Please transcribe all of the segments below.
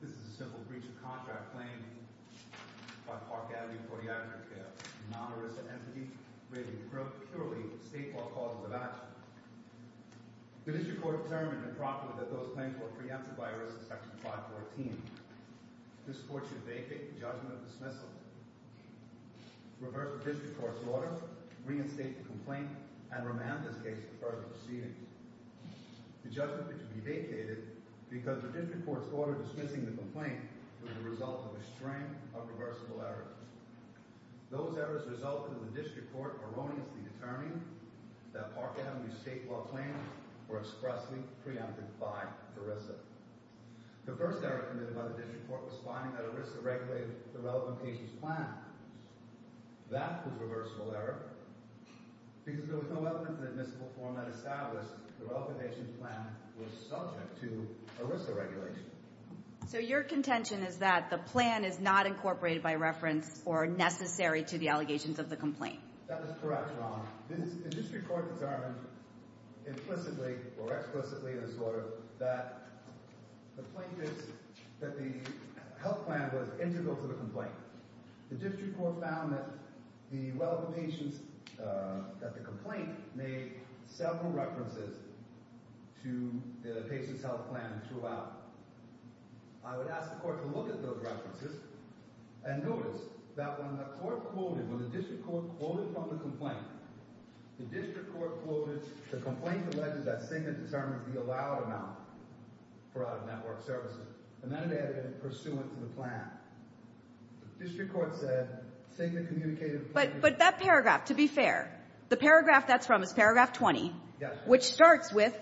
This is a simple breach of contract claimed by Park Avenue Podiatric Care, a non-ERISA entity, relating purely to state law causes of action. The District Court determined and prompted that those claims were preempted by ERISA Section 514. This court should vacate the judgment of dismissal, reverse the District Court's order, reinstate the complaint, and remand this case for further proceedings. The judgment could be vacated because the District Court's order dismissing the complaint was the result of a string of reversible errors. Those errors resulted in the District Court erroneously determining that Park Avenue's state law claims were expressly preempted by ERISA. The first error committed by the District Court was finding that ERISA regulated the relevant patient's plan. That was a reversible error because there was no element in the dismissal form that established the relevant patient's plan was subject to ERISA regulation. So your contention is that the plan is not incorporated by reference or necessary to the allegations of the complaint? The District Court determined implicitly or explicitly in this order that the health plan was integral to the complaint. The District Court found that the relevant patient's—that the complaint made several references to the patient's health plan throughout. I would ask the Court to look at those references and notice that when the Court quoted, when the District Court quoted from the complaint, the District Court quoted the complaint alleges that Sigmund determines the allowed amount for out-of-network services. And then they added in pursuant to the plan. The District Court said Sigmund communicated— But that paragraph, to be fair, the paragraph that's from is paragraph 20. Yes. Which starts with,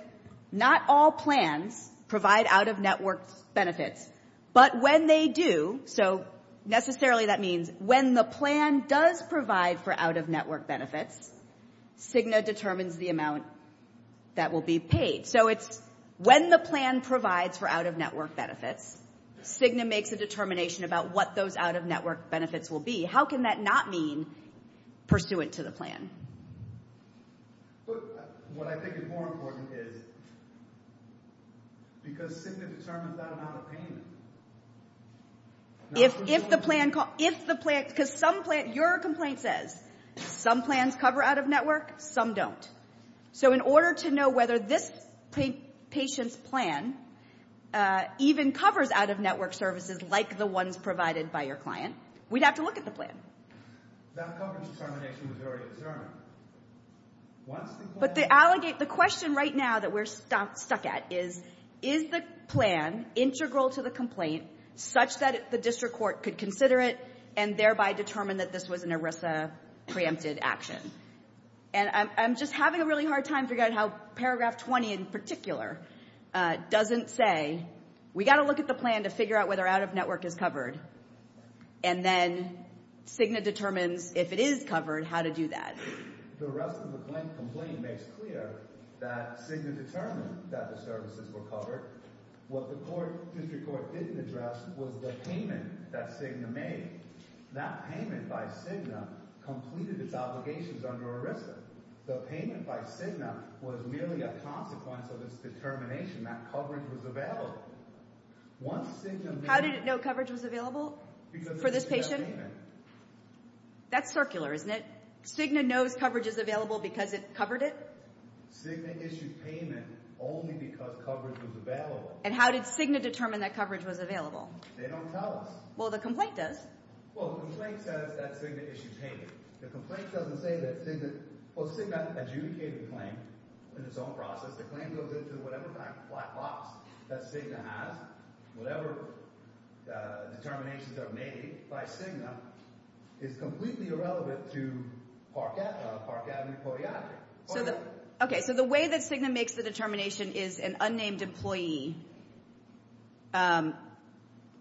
not all plans provide out-of-network benefits. But when they do, so necessarily that means when the plan does provide for out-of-network benefits, Cigna determines the amount that will be paid. So it's when the plan provides for out-of-network benefits, Cigna makes a determination about what those out-of-network benefits will be. How can that not mean pursuant to the plan? But what I think is more important is because Sigmund determines that amount of payment. If the plan—because some plans—your complaint says some plans cover out-of-network, some don't. So in order to know whether this patient's plan even covers out-of-network services like the ones provided by your client, we'd have to look at the plan. That coverage determination was already determined. Once the plan— But the question right now that we're stuck at is, is the plan integral to the complaint such that the district court could consider it and thereby determine that this was an ERISA preempted action? And I'm just having a really hard time figuring out how paragraph 20 in particular doesn't say, we've got to look at the plan to figure out whether out-of-network is covered. And then Cigna determines, if it is covered, how to do that. The rest of the complaint makes clear that Cigna determined that the services were covered. What the district court didn't address was the payment that Cigna made. That payment by Cigna completed its obligations under ERISA. The payment by Cigna was merely a consequence of its determination that coverage was available. Once Cigna— How did it know coverage was available for this patient? That's circular, isn't it? Cigna knows coverage is available because it covered it? Cigna issued payment only because coverage was available. And how did Cigna determine that coverage was available? They don't tell us. Well, the complaint does. Well, the complaint says that Cigna issued payment. The complaint doesn't say that Cigna— Well, Cigna adjudicated the claim in its own process. The claim goes into whatever black box that Cigna has. Whatever determinations are made by Cigna is completely irrelevant to Park Avenue Podiatric. Okay, so the way that Cigna makes the determination is an unnamed employee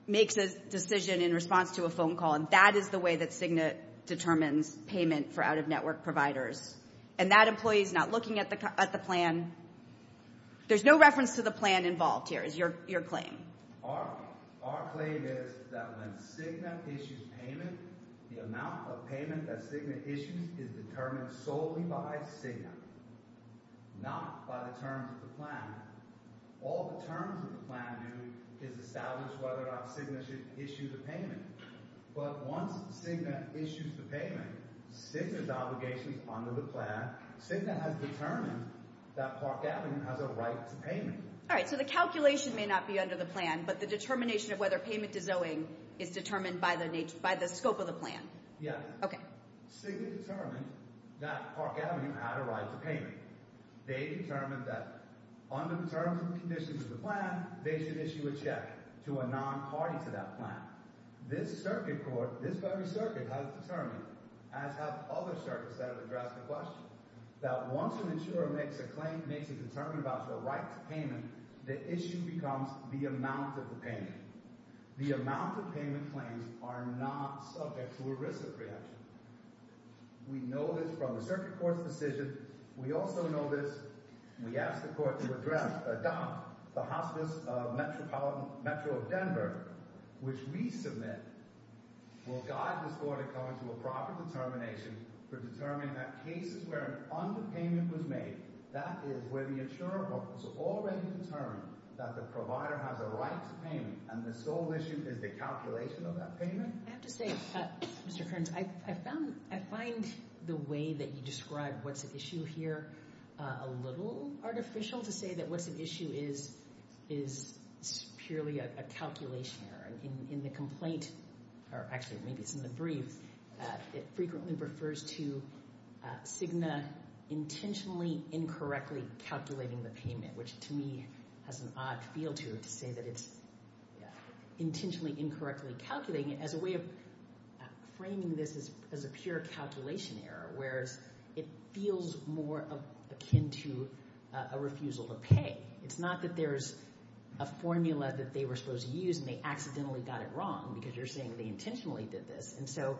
makes a decision in response to a phone call. And that is the way that Cigna determines payment for out-of-network providers. And that employee is not looking at the plan. There's no reference to the plan involved here is your claim. Our claim is that when Cigna issues payment, the amount of payment that Cigna issues is determined solely by Cigna, not by the terms of the plan. All the terms of the plan do is establish whether or not Cigna should issue the payment. But once Cigna issues the payment, Cigna's obligation is under the plan. Cigna has determined that Park Avenue has a right to payment. All right, so the calculation may not be under the plan, but the determination of whether payment is owing is determined by the scope of the plan. Yes. Okay. Cigna determined that Park Avenue had a right to payment. They determined that under the terms and conditions of the plan, they should issue a check to a non-party to that plan. Now, this circuit court, this very circuit has determined, as have other circuits that have addressed the question, that once an insurer makes a claim, makes a determination about your right to payment, the issue becomes the amount of the payment. The amount of payment claims are not subject to a risk of preemption. We know this from the circuit court's decision. We also know this, we ask the court to adopt the hospice metro of Denver, which we submit, will guide this court in coming to a proper determination for determining that cases where an underpayment was made, that is where the insurer has already determined that the provider has a right to payment, and the sole issue is the calculation of that payment? I have to say, Mr. Kearns, I find the way that you describe what's at issue here a little artificial, to say that what's at issue is purely a calculation error. In the complaint, or actually maybe it's in the brief, it frequently refers to Cigna intentionally incorrectly calculating the payment, which to me has an odd feel to it to say that it's intentionally incorrectly calculating it, as a way of framing this as a pure calculation error, whereas it feels more akin to a refusal to pay. It's not that there's a formula that they were supposed to use and they accidentally got it wrong, because you're saying they intentionally did this, and so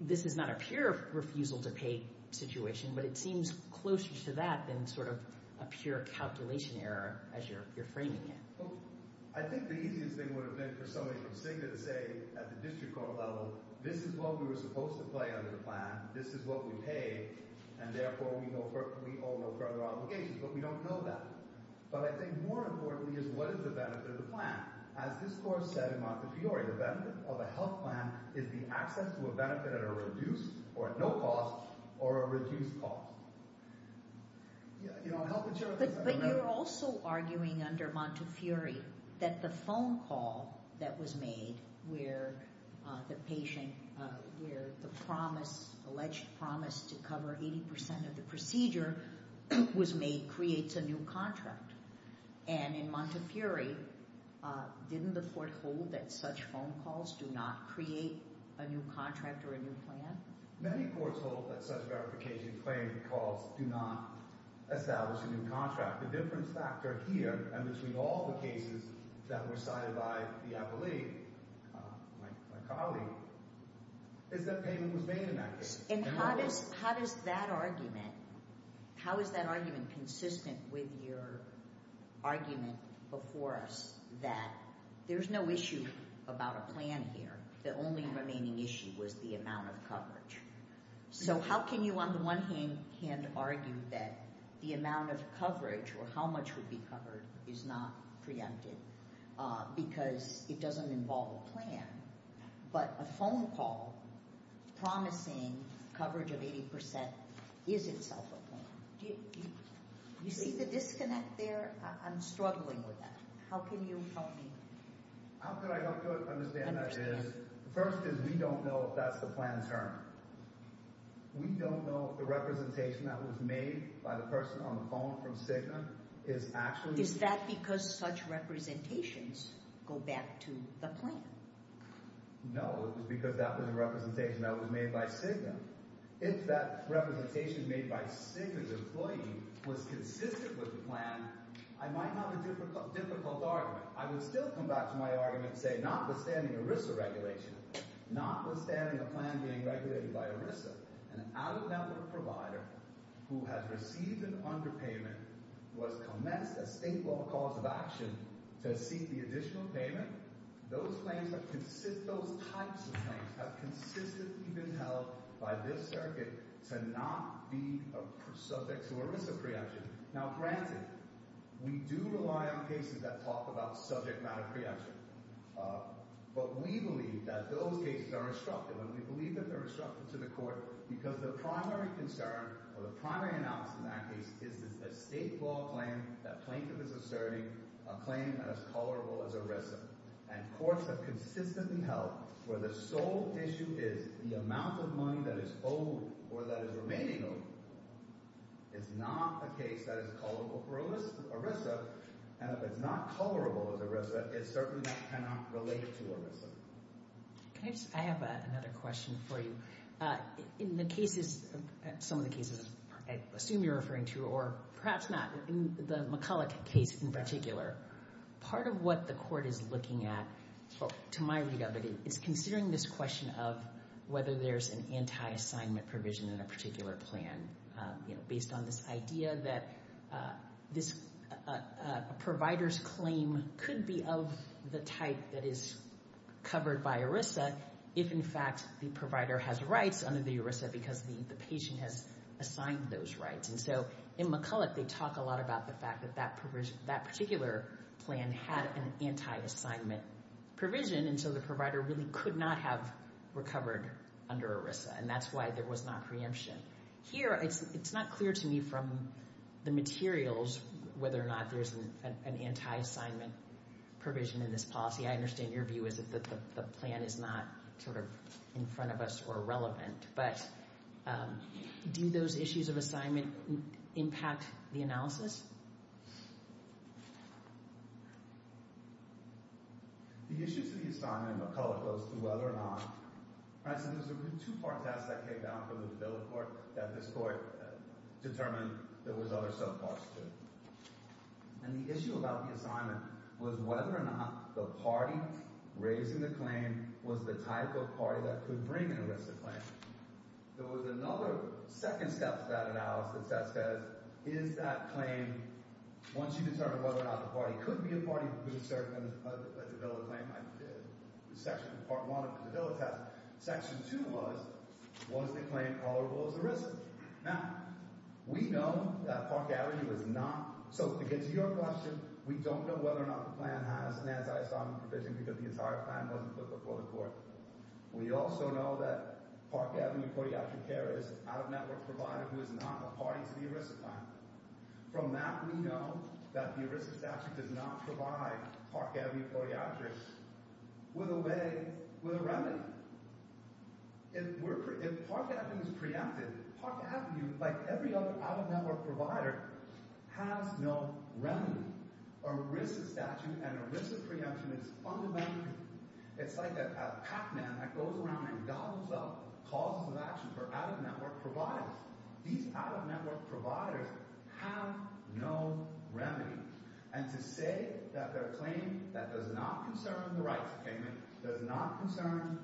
this is not a pure refusal to pay situation, but it seems closer to that than sort of a pure calculation error as you're framing it. I think the easiest thing would have been for somebody from Cigna to say at the district court level, this is what we were supposed to pay under the plan, this is what we paid, and therefore we owe no further obligations, but we don't know that. But I think more importantly is what is the benefit of the plan? As this court said in Montefiore, the benefit of a health plan is the access to a benefit at no cost or a reduced cost. But you're also arguing under Montefiore that the phone call that was made where the patient, where the alleged promise to cover 80% of the procedure was made creates a new contract. And in Montefiore, didn't the court hold that such phone calls do not create a new contract or a new plan? Many courts hold that such verification claim calls do not establish a new contract. The difference factor here and between all the cases that were cited by the appellee, my colleague, is that payment was made in that case. And how is that argument consistent with your argument before us that there's no issue about a plan here? The only remaining issue was the amount of coverage. So how can you on the one hand argue that the amount of coverage or how much would be covered is not preempted because it doesn't involve a plan, but a phone call promising coverage of 80% is itself a plan? Do you see the disconnect there? I'm struggling with that. How can you help me? How could I help you understand that is, first is we don't know if that's the plan term. We don't know if the representation that was made by the person on the phone from Cigna is actually... Is that because such representations go back to the plan? No, it was because that was a representation that was made by Cigna. If that representation made by Cigna's employee was consistent with the plan, I might have a difficult argument. I would still come back to my argument and say notwithstanding ERISA regulation, notwithstanding a plan being regulated by ERISA, an out-of-bound provider who has received an underpayment was commenced a state law cause of action to seek the additional payment, those types of claims have consistently been held by this circuit to not be subject to ERISA preemption. Now, granted, we do rely on cases that talk about subject matter preemption. But we believe that those cases are instructive, and we believe that they're instructive to the court because the primary concern or the primary analysis in that case is that it's a state law claim, that plaintiff is asserting a claim that is colorable as ERISA, and courts have consistently held where the sole issue is the amount of money that is owed or that is remaining owed. It's not a case that is colorable for ERISA, and if it's not colorable as ERISA, it certainly cannot relate to ERISA. I have another question for you. In the cases, some of the cases I assume you're referring to, or perhaps not, in the McCulloch case in particular, part of what the court is looking at, to my read of it, it's considering this question of whether there's an anti-assignment provision in a particular plan based on this idea that a provider's claim could be of the type that is covered by ERISA if, in fact, the provider has rights under the ERISA because the patient has assigned those rights. In McCulloch, they talk a lot about the fact that that particular plan had an anti-assignment provision, and so the provider really could not have recovered under ERISA, and that's why there was not preemption. Here, it's not clear to me from the materials whether or not there's an anti-assignment provision in this policy. I understand your view is that the plan is not sort of in front of us or relevant, but do those issues of assignment impact the analysis? The issue to the assignment in McCulloch goes to whether or not— I said there was a two-part test that came down from the bill of court that this court determined there was other subparts to it. And the issue about the assignment was whether or not the party raising the claim was the type of party that could bring an ERISA claim. There was another second step to that analysis that says, is that claim— once you determine whether or not the party could be a party that would assert that the bill of claim— Section 2 was, was the claim tolerable as ERISA? Now, we know that Park Avenue was not—so to get to your question, we don't know whether or not the plan has an anti-assignment provision because the entire plan wasn't put before the court. We also know that Park Avenue Podiatric Care is an out-of-network provider who is not a party to the ERISA plan. From that, we know that the ERISA statute does not provide Park Avenue podiatrists with a way, with a remedy. If Park Avenue is preempted, Park Avenue, like every other out-of-network provider, has no remedy. The ERISA statute and ERISA preemption is fundamentally—it's like a Pac-Man that goes around and goggles up causes of action for out-of-network providers. These out-of-network providers have no remedy. And to say that their claim that does not concern the rights of payment, does not concern—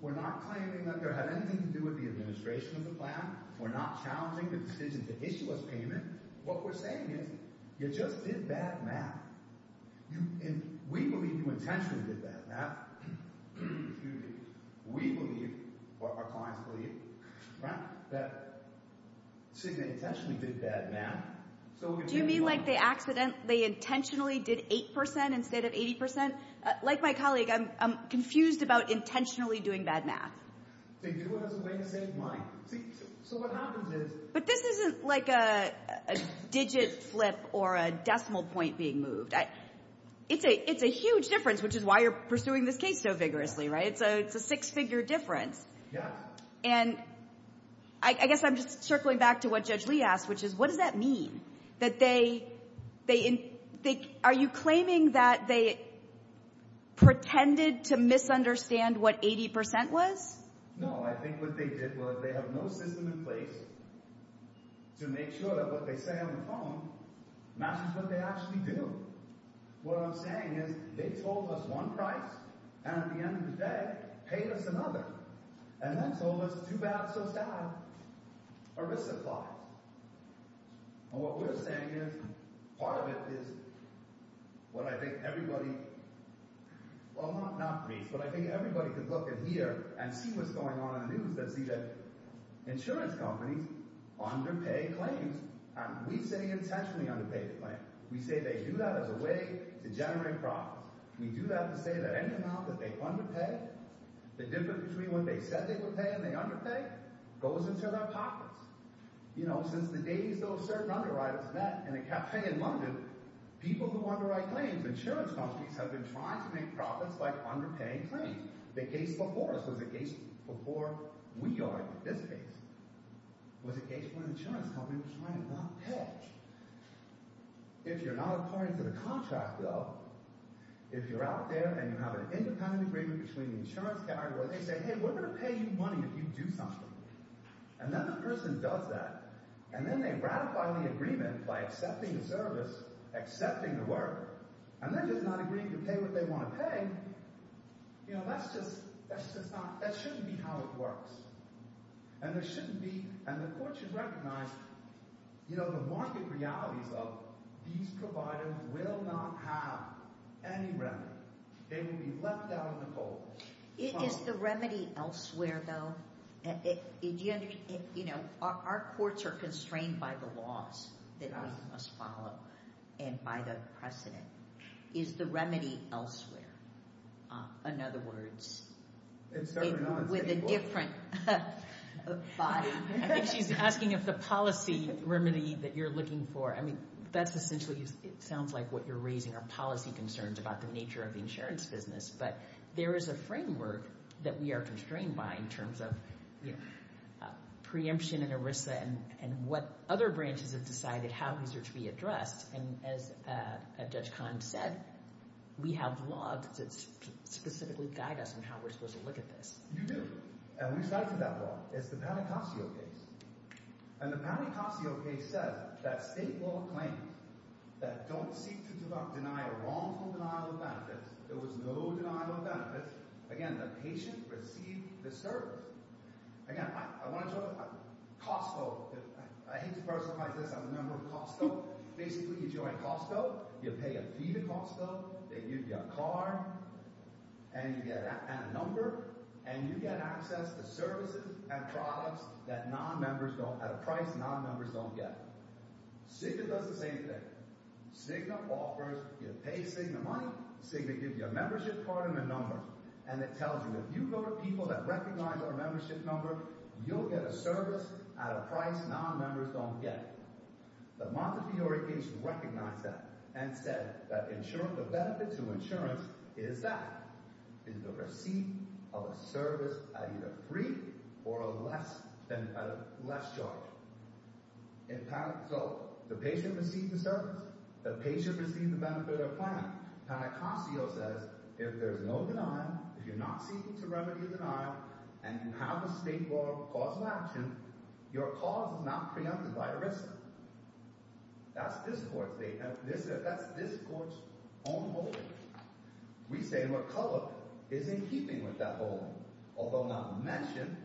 we're not claiming that there had anything to do with the administration of the plan. We're not challenging the decision to issue us payment. What we're saying is, you just did bad math. We believe you intentionally did bad math. We believe, or our clients believe, that Signe intentionally did bad math. Do you mean like the accident, they intentionally did 8% instead of 80%? Like my colleague, I'm confused about intentionally doing bad math. To do it as a way to save money. So what happens is— But this isn't like a digit flip or a decimal point being moved. It's a huge difference, which is why you're pursuing this case so vigorously, right? It's a six-figure difference. Yes. And I guess I'm just circling back to what Judge Lee asked, which is, what does that mean? That they—are you claiming that they pretended to misunderstand what 80% was? No, I think what they did was they have no system in place to make sure that what they say on the phone matches what they actually do. What I'm saying is they told us one price, and at the end of the day, paid us another. And then told us, too bad, so sad. A risk applies. And what we're saying is, part of it is what I think everybody— that see that insurance companies underpay claims. We say intentionally underpay the claim. We say they do that as a way to generate profits. We do that to say that any amount that they underpay, the difference between what they said they would pay and they underpay, goes into their pockets. You know, since the days those certain underwriters met in a cafe in London, people who underwrite claims, insurance companies, have been trying to make profits by underpaying claims. The case before us was a case before we argued, this case, was a case where an insurance company was trying to not pay. If you're not a party to the contract, though, if you're out there and you have an independent agreement between the insurance category, they say, hey, we're going to pay you money if you do something. And then the person does that. And then they ratify the agreement by accepting the service, accepting the work, and then just not agreeing to pay what they want to pay. And, you know, that's just not – that shouldn't be how it works. And there shouldn't be – and the court should recognize, you know, the market realities of these providers will not have any remedy. They will be left out in the cold. Is the remedy elsewhere, though? You know, our courts are constrained by the laws that we must follow and by the precedent. Is the remedy elsewhere? In other words, with a different body? She's asking if the policy remedy that you're looking for – I mean, that's essentially – it sounds like what you're raising are policy concerns about the nature of the insurance business. But there is a framework that we are constrained by in terms of preemption and ERISA and what other branches have decided how these are to be addressed. And as Judge Kahn said, we have laws that specifically guide us on how we're supposed to look at this. You do. And we cited that law. It's the Patacacio case. And the Patacacio case says that state law claims that don't seek to deny a wrongful denial of benefits. There was no denial of benefits. Again, the patient received the service. Again, I want to talk – Costco. I hate to personalize this. I'm a member of Costco. Basically, you join Costco. You pay a fee to Costco. They give you a card. And you get – and a number. And you get access to services and products that non-members don't – at a price non-members don't get. Cigna does the same thing. Cigna offers. You pay Cigna money. Cigna gives you a membership card and a number. And it tells you if you go to people that recognize our membership number, you'll get a service at a price non-members don't get. The Montefiore case recognized that and said that insurance – the benefit to insurance is that. It's the receipt of a service at either free or a less charge. So the patient received the service. The patient received the benefit of plan. Patacacio says if there's no denial, if you're not seeking to remedy a denial, and you have a state law cause of action, your cause is not preempted by a risk. That's this court's statement. That's this court's own holding. We say McCulloch is in keeping with that holding, although not mentioned.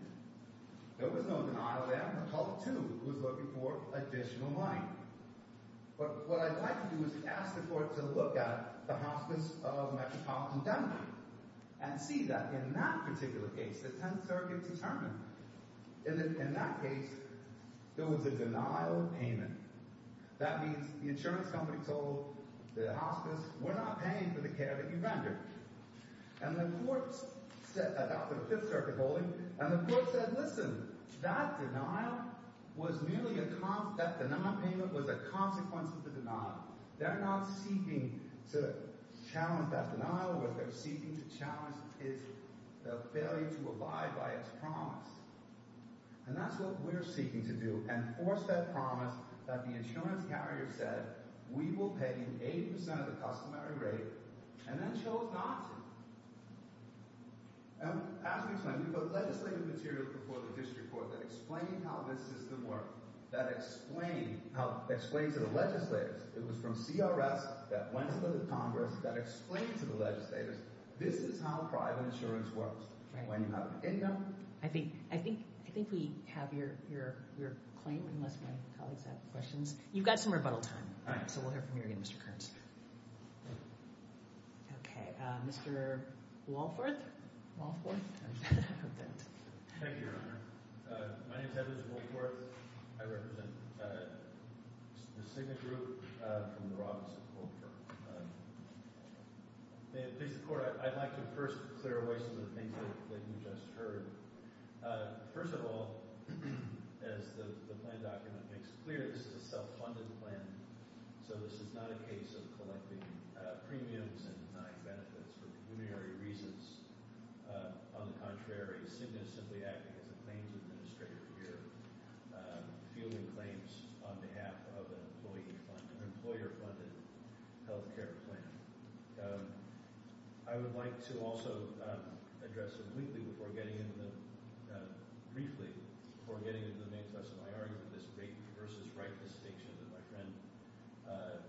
There was no denial there. McCulloch, too, was looking for additional money. But what I'd like to do is ask the court to look at the Hospice of Metropolitan Denver and see that in that particular case, the Tenth Circuit determined in that case there was a denial of payment. That means the insurance company told the hospice, we're not paying for the care that you rendered. And the court – about the Fifth Circuit holding – and the court said, listen, that denial was merely a – that denial payment was a consequence of the denial. They're not seeking to challenge that denial. What they're seeking to challenge is the failure to abide by its promise. And that's what we're seeking to do, enforce that promise that the insurance carrier said we will pay you 80 percent of the customary rate and then chose not to. As we explained, we put legislative material before the district court that explained how this system works, that explained to the legislators. It was from CRS that went to the Congress that explained to the legislators this is how private insurance works when you have an income. I think we have your claim unless my colleagues have questions. You've got some rebuttal time, so we'll hear from you again, Mr. Kearns. Okay. Mr. Walforth? Walforth? Thank you, Your Honor. My name is Edwin Walforth. I represent the SIGNA group from the office of Walforth. May it please the court, I'd like to first clear away some of the things that you just heard. First of all, as the plan document makes clear, this is a self-funded plan, so this is not a case of collecting premiums and denying benefits for preliminary reasons. On the contrary, SIGNA is simply acting as a claims administrator here, fielding claims on behalf of an employee-funded, an employer-funded health care plan. I would like to also address, briefly, before getting into the main topic of my argument, this rape versus right distinction that my friend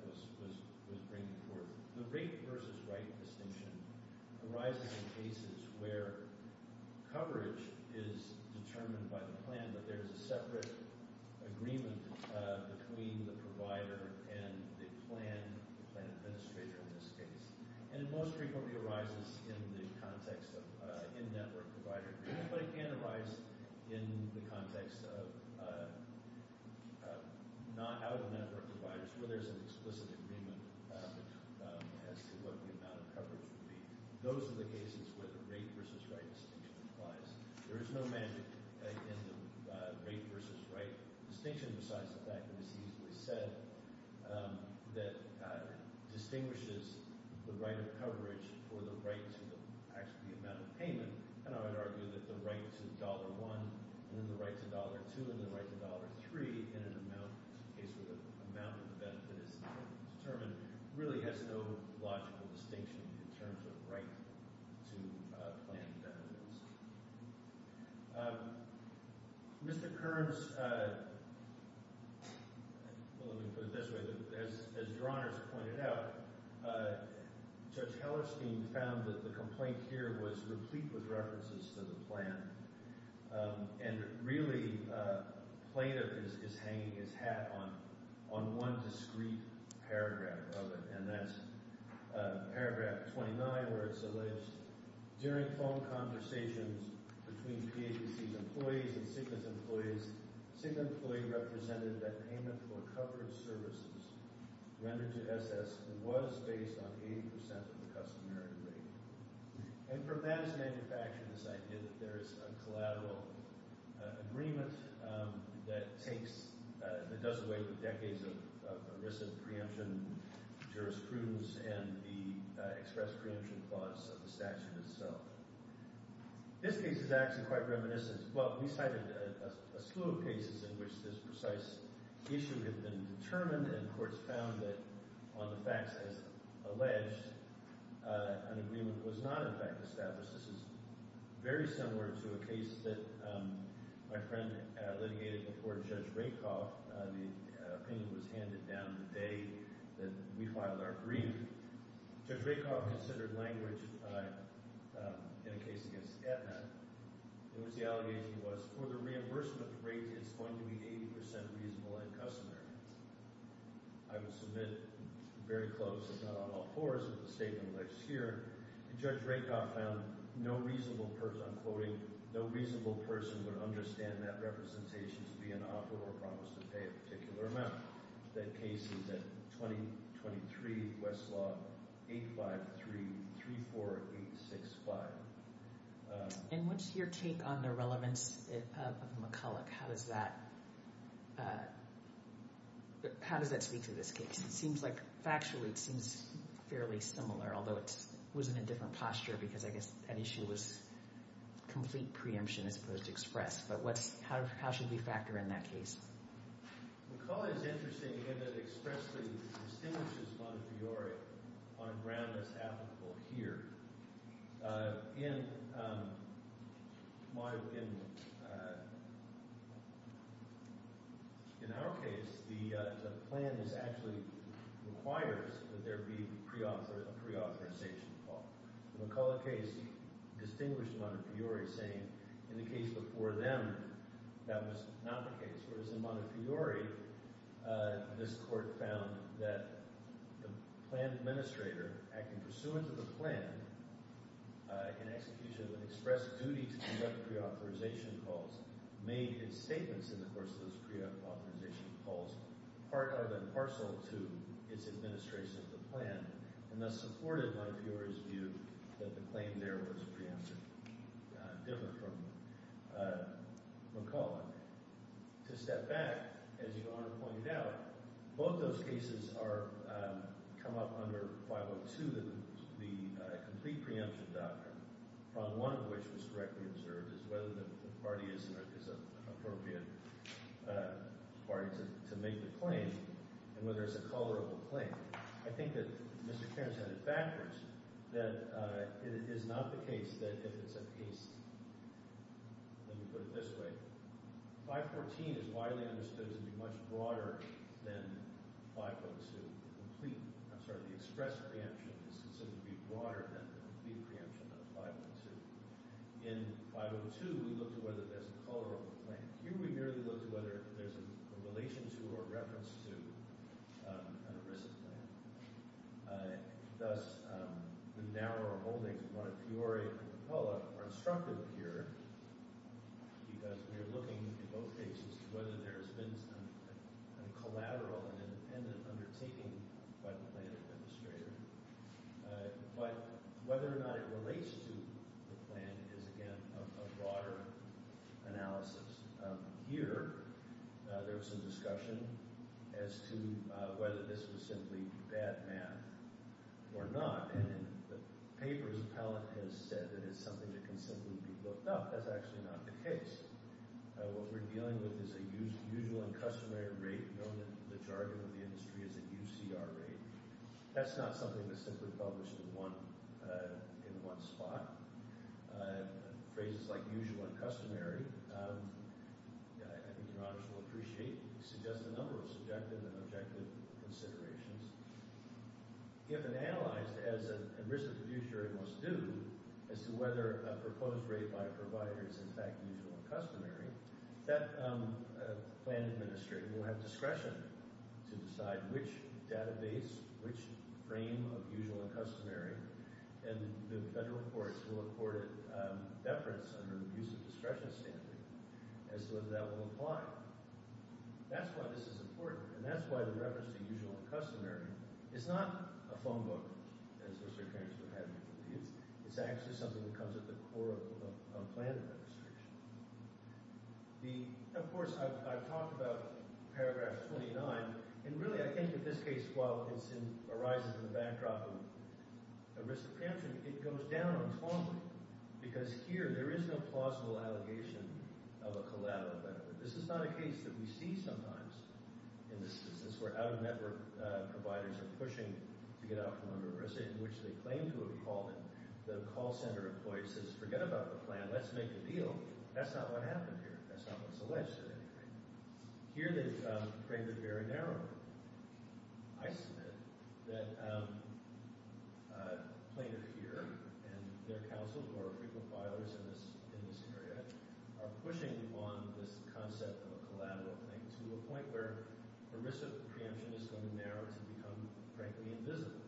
was bringing forth. The rape versus right distinction arises in cases where coverage is determined by the plan, but there is a separate agreement between the provider and the plan administrator in this case. And it most frequently arises in the context of in-network provider agreements, but it can arise in the context of not-out-of-network providers where there's an explicit agreement as to what the amount of coverage would be. Those are the cases where the rape versus right distinction applies. There is no magic in the rape versus right distinction besides the fact that it's easily said that it distinguishes the right of coverage for the right to actually the amount of payment. And I would argue that the right to $1 and then the right to $2 and then the right to $3 in an amount case where the amount of the benefit is determined really has no logical distinction in terms of right to plan benefits. Mr. Kearns – well, let me put it this way. As Your Honors pointed out, Judge Hellerstein found that the complaint here was replete with references to the plan. And really, Plato is hanging his hat on one discreet paragraph of it, and that's paragraph 29 where it's alleged, During phone conversations between PHDC's employees and Cigna's employees, Cigna's employee represented that payment for coverage services rendered to SS was based on 80% of the customary rate. And from that is manufactured this idea that there is a collateral agreement that takes – that does away with decades of recent preemption jurisprudence and the express preemption clause of the statute itself. This case is actually quite reminiscent – well, we cited a slew of cases in which this precise issue had been determined and courts found that on the facts as alleged, an agreement was not in fact established. This is very similar to a case that my friend litigated before Judge Rakoff. The opinion was handed down the day that we filed our brief. Judge Rakoff considered language in a case against Aetna in which the allegation was, for the reimbursement rate, it's going to be 80% reasonable and customary. I would submit very close, if not on all fours, of the statement alleged here. And Judge Rakoff found no reasonable – I'm quoting – no reasonable person would understand that representation to be an offer or promise to pay a particular amount. That case is at 2023 Westlaw 85334865. And what's your take on the relevance of McCulloch? How does that speak to this case? Factually, it seems fairly similar, although it was in a different posture because I guess that issue was complete preemption as opposed to express. But how should we factor in that case? McCulloch is interesting in that it expressly distinguishes Montefiore on a ground that's applicable here. In my – in our case, the plan is actually – requires that there be a preauthorization call. The McCulloch case distinguished Montefiore, saying in the case before them that was not the case. Whereas in Montefiore, this court found that the plan administrator, acting pursuant to the plan in execution of an express duty to conduct preauthorization calls, made his statements in the course of those preauthorization calls part of and parcel to its administration of the plan and thus supported Montefiore's view that the claim there was preempted, different from McCulloch. To step back, as Your Honor pointed out, both those cases are – come up under 502, the complete preemption doctrine, from one of which was directly observed as whether the party is an appropriate party to make the claim and whether it's a tolerable claim. I think that Mr. Kearns had it backwards that it is not the case that if it's a case – let me put it this way. 514 is widely understood to be much broader than 502, the complete – I'm sorry, the express preemption is considered to be broader than the complete preemption of 502. In 502, we looked at whether there's a tolerable claim. Here we merely looked at whether there's a relation to or a reference to an erisic plan. Thus, the narrower holdings of Montefiore and McCulloch are instructive here because we are looking in both cases to whether there has been some kind of collateral and an independent undertaking by the plan administrator. But whether or not it relates to the plan is, again, a broader analysis. Here there was some discussion as to whether this was simply bad math or not. And in the papers, Pallant has said that it's something that can simply be looked up. That's actually not the case. What we're dealing with is a usual and customary rate, known in the jargon of the industry as a UCR rate. That's not something that's simply published in one spot. Phrases like usual and customary, I think your honors will appreciate, suggest a number of subjective and objective considerations. If it's analyzed, as an erisic fiduciary must do, as to whether a proposed rate by a provider is in fact usual and customary, that plan administrator will have discretion to decide which database, which frame of usual and customary, and the federal courts will accord it deference under the use of discretion standard as to whether that will apply. That's why this is important, and that's why the reference to usual and customary is not a phone book, as Mr. Cranston had me believe. It's actually something that comes at the core of plan administration. Of course, I've talked about paragraph 29, and really I think in this case, while it arises in the backdrop of erisic preemption, it goes down informally. Because here, there is no plausible allegation of a collateral benefit. This is not a case that we see sometimes in this instance where out-of-network providers are pushing to get out from an erisic in which they claim to have fallen. The call center employee says, forget about the plan, let's make a deal. That's not what happened here. That's not what's alleged to have happened. Here they've framed it very narrowly. I submit that a plaintiff here and their counsel, who are frequent filers in this area, are pushing on this concept of a collateral thing to a point where erisic preemption is going to narrow to become, frankly, invisible.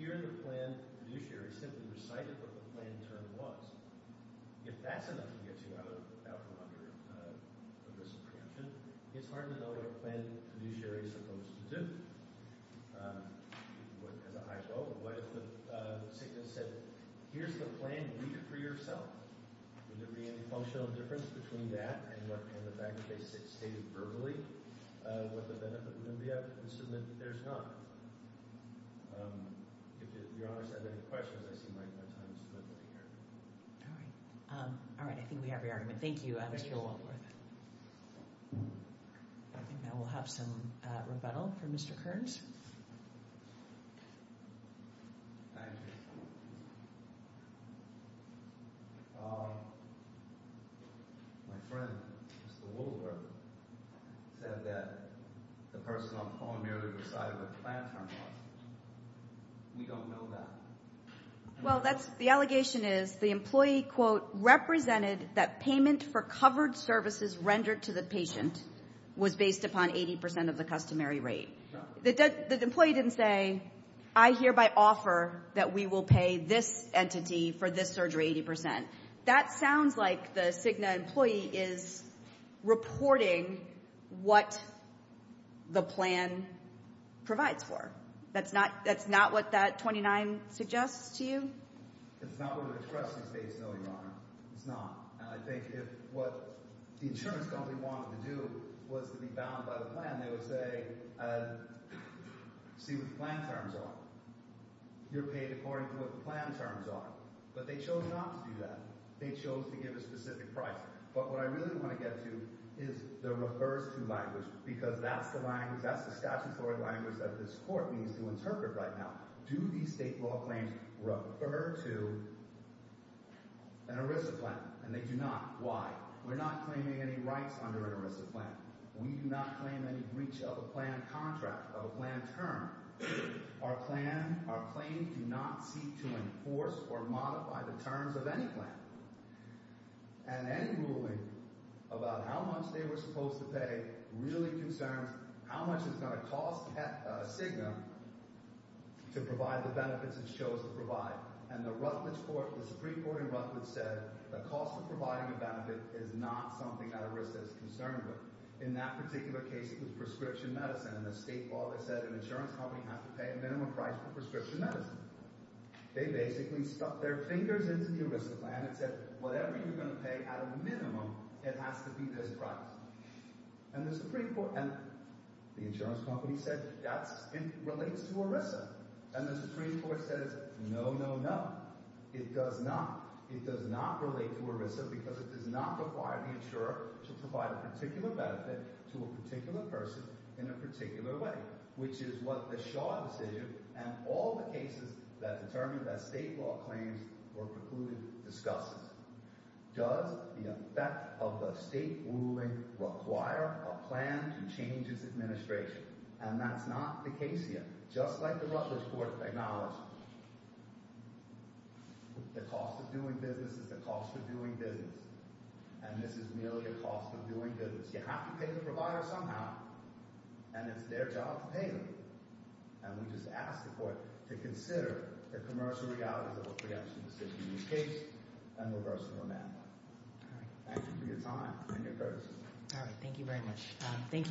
Here the plan fiduciary simply recited what the plan term was. If that's enough to get you out from under erisic preemption, it's hard to know what a plan fiduciary is supposed to do. As a hypo, what if the sickness said, here's the plan, read it for yourself? Would there be any functional difference between that and the fact that they stated verbally what the benefit would be? I assume that there's not. If your honors have any questions, I see my time is limited here. All right. I think we have your argument. Thank you, Mr. Woolworth. I think now we'll have some rebuttal from Mr. Kearns. Thank you. My friend, Mr. Woolworth, said that the person on the phone merely recited what the plan term was. We don't know that. Well, the allegation is the employee, quote, represented that payment for covered services rendered to the patient was based upon 80% of the customary rate. The employee didn't say, I hereby offer that we will pay this entity for this surgery 80%. That sounds like the Cigna employee is reporting what the plan provides for. That's not what that 29 suggests to you? It's not what it expresses, no, your honor. It's not. And I think if what the insurance company wanted to do was to be bound by the plan, they would say, see what the plan terms are. You're paid according to what the plan terms are. But they chose not to do that. They chose to give a specific price. But what I really want to get to is the refers to language because that's the language, that's the statutory language that this court needs to interpret right now. Do these state law claims refer to an ERISA plan? And they do not. Why? We're not claiming any rights under an ERISA plan. We do not claim any breach of a plan contract, of a plan term. Our plan – our claims do not seek to enforce or modify the terms of any plan. And any ruling about how much they were supposed to pay really concerns how much it's going to cost Cigna to provide the benefits it chose to provide. And the Rutledge court – the Supreme Court in Rutledge said the cost of providing a benefit is not something that ERISA is concerned with. In that particular case, it was prescription medicine. In the state law, they said an insurance company has to pay a minimum price for prescription medicine. They basically stuck their fingers into the ERISA plan and said whatever you're going to pay at a minimum, it has to be this price. And the Supreme Court – and the insurance company said that's – it relates to ERISA. And the Supreme Court says no, no, no. It does not. It does not relate to ERISA because it does not require the insurer to provide a particular benefit to a particular person in a particular way. Which is what the Shaw decision and all the cases that determine that state law claims were precluded discusses. Does the effect of the state ruling require a plan to change its administration? And that's not the case here. Just like the Rutledge court acknowledged, the cost of doing business is the cost of doing business. And this is merely a cost of doing business. You have to pay the provider somehow, and it's their job to pay them. And we just ask the court to consider the commercial realities of a preemption decision in this case and reverse it on that one. Thank you for your time and your courtesy. All right. Thank you very much.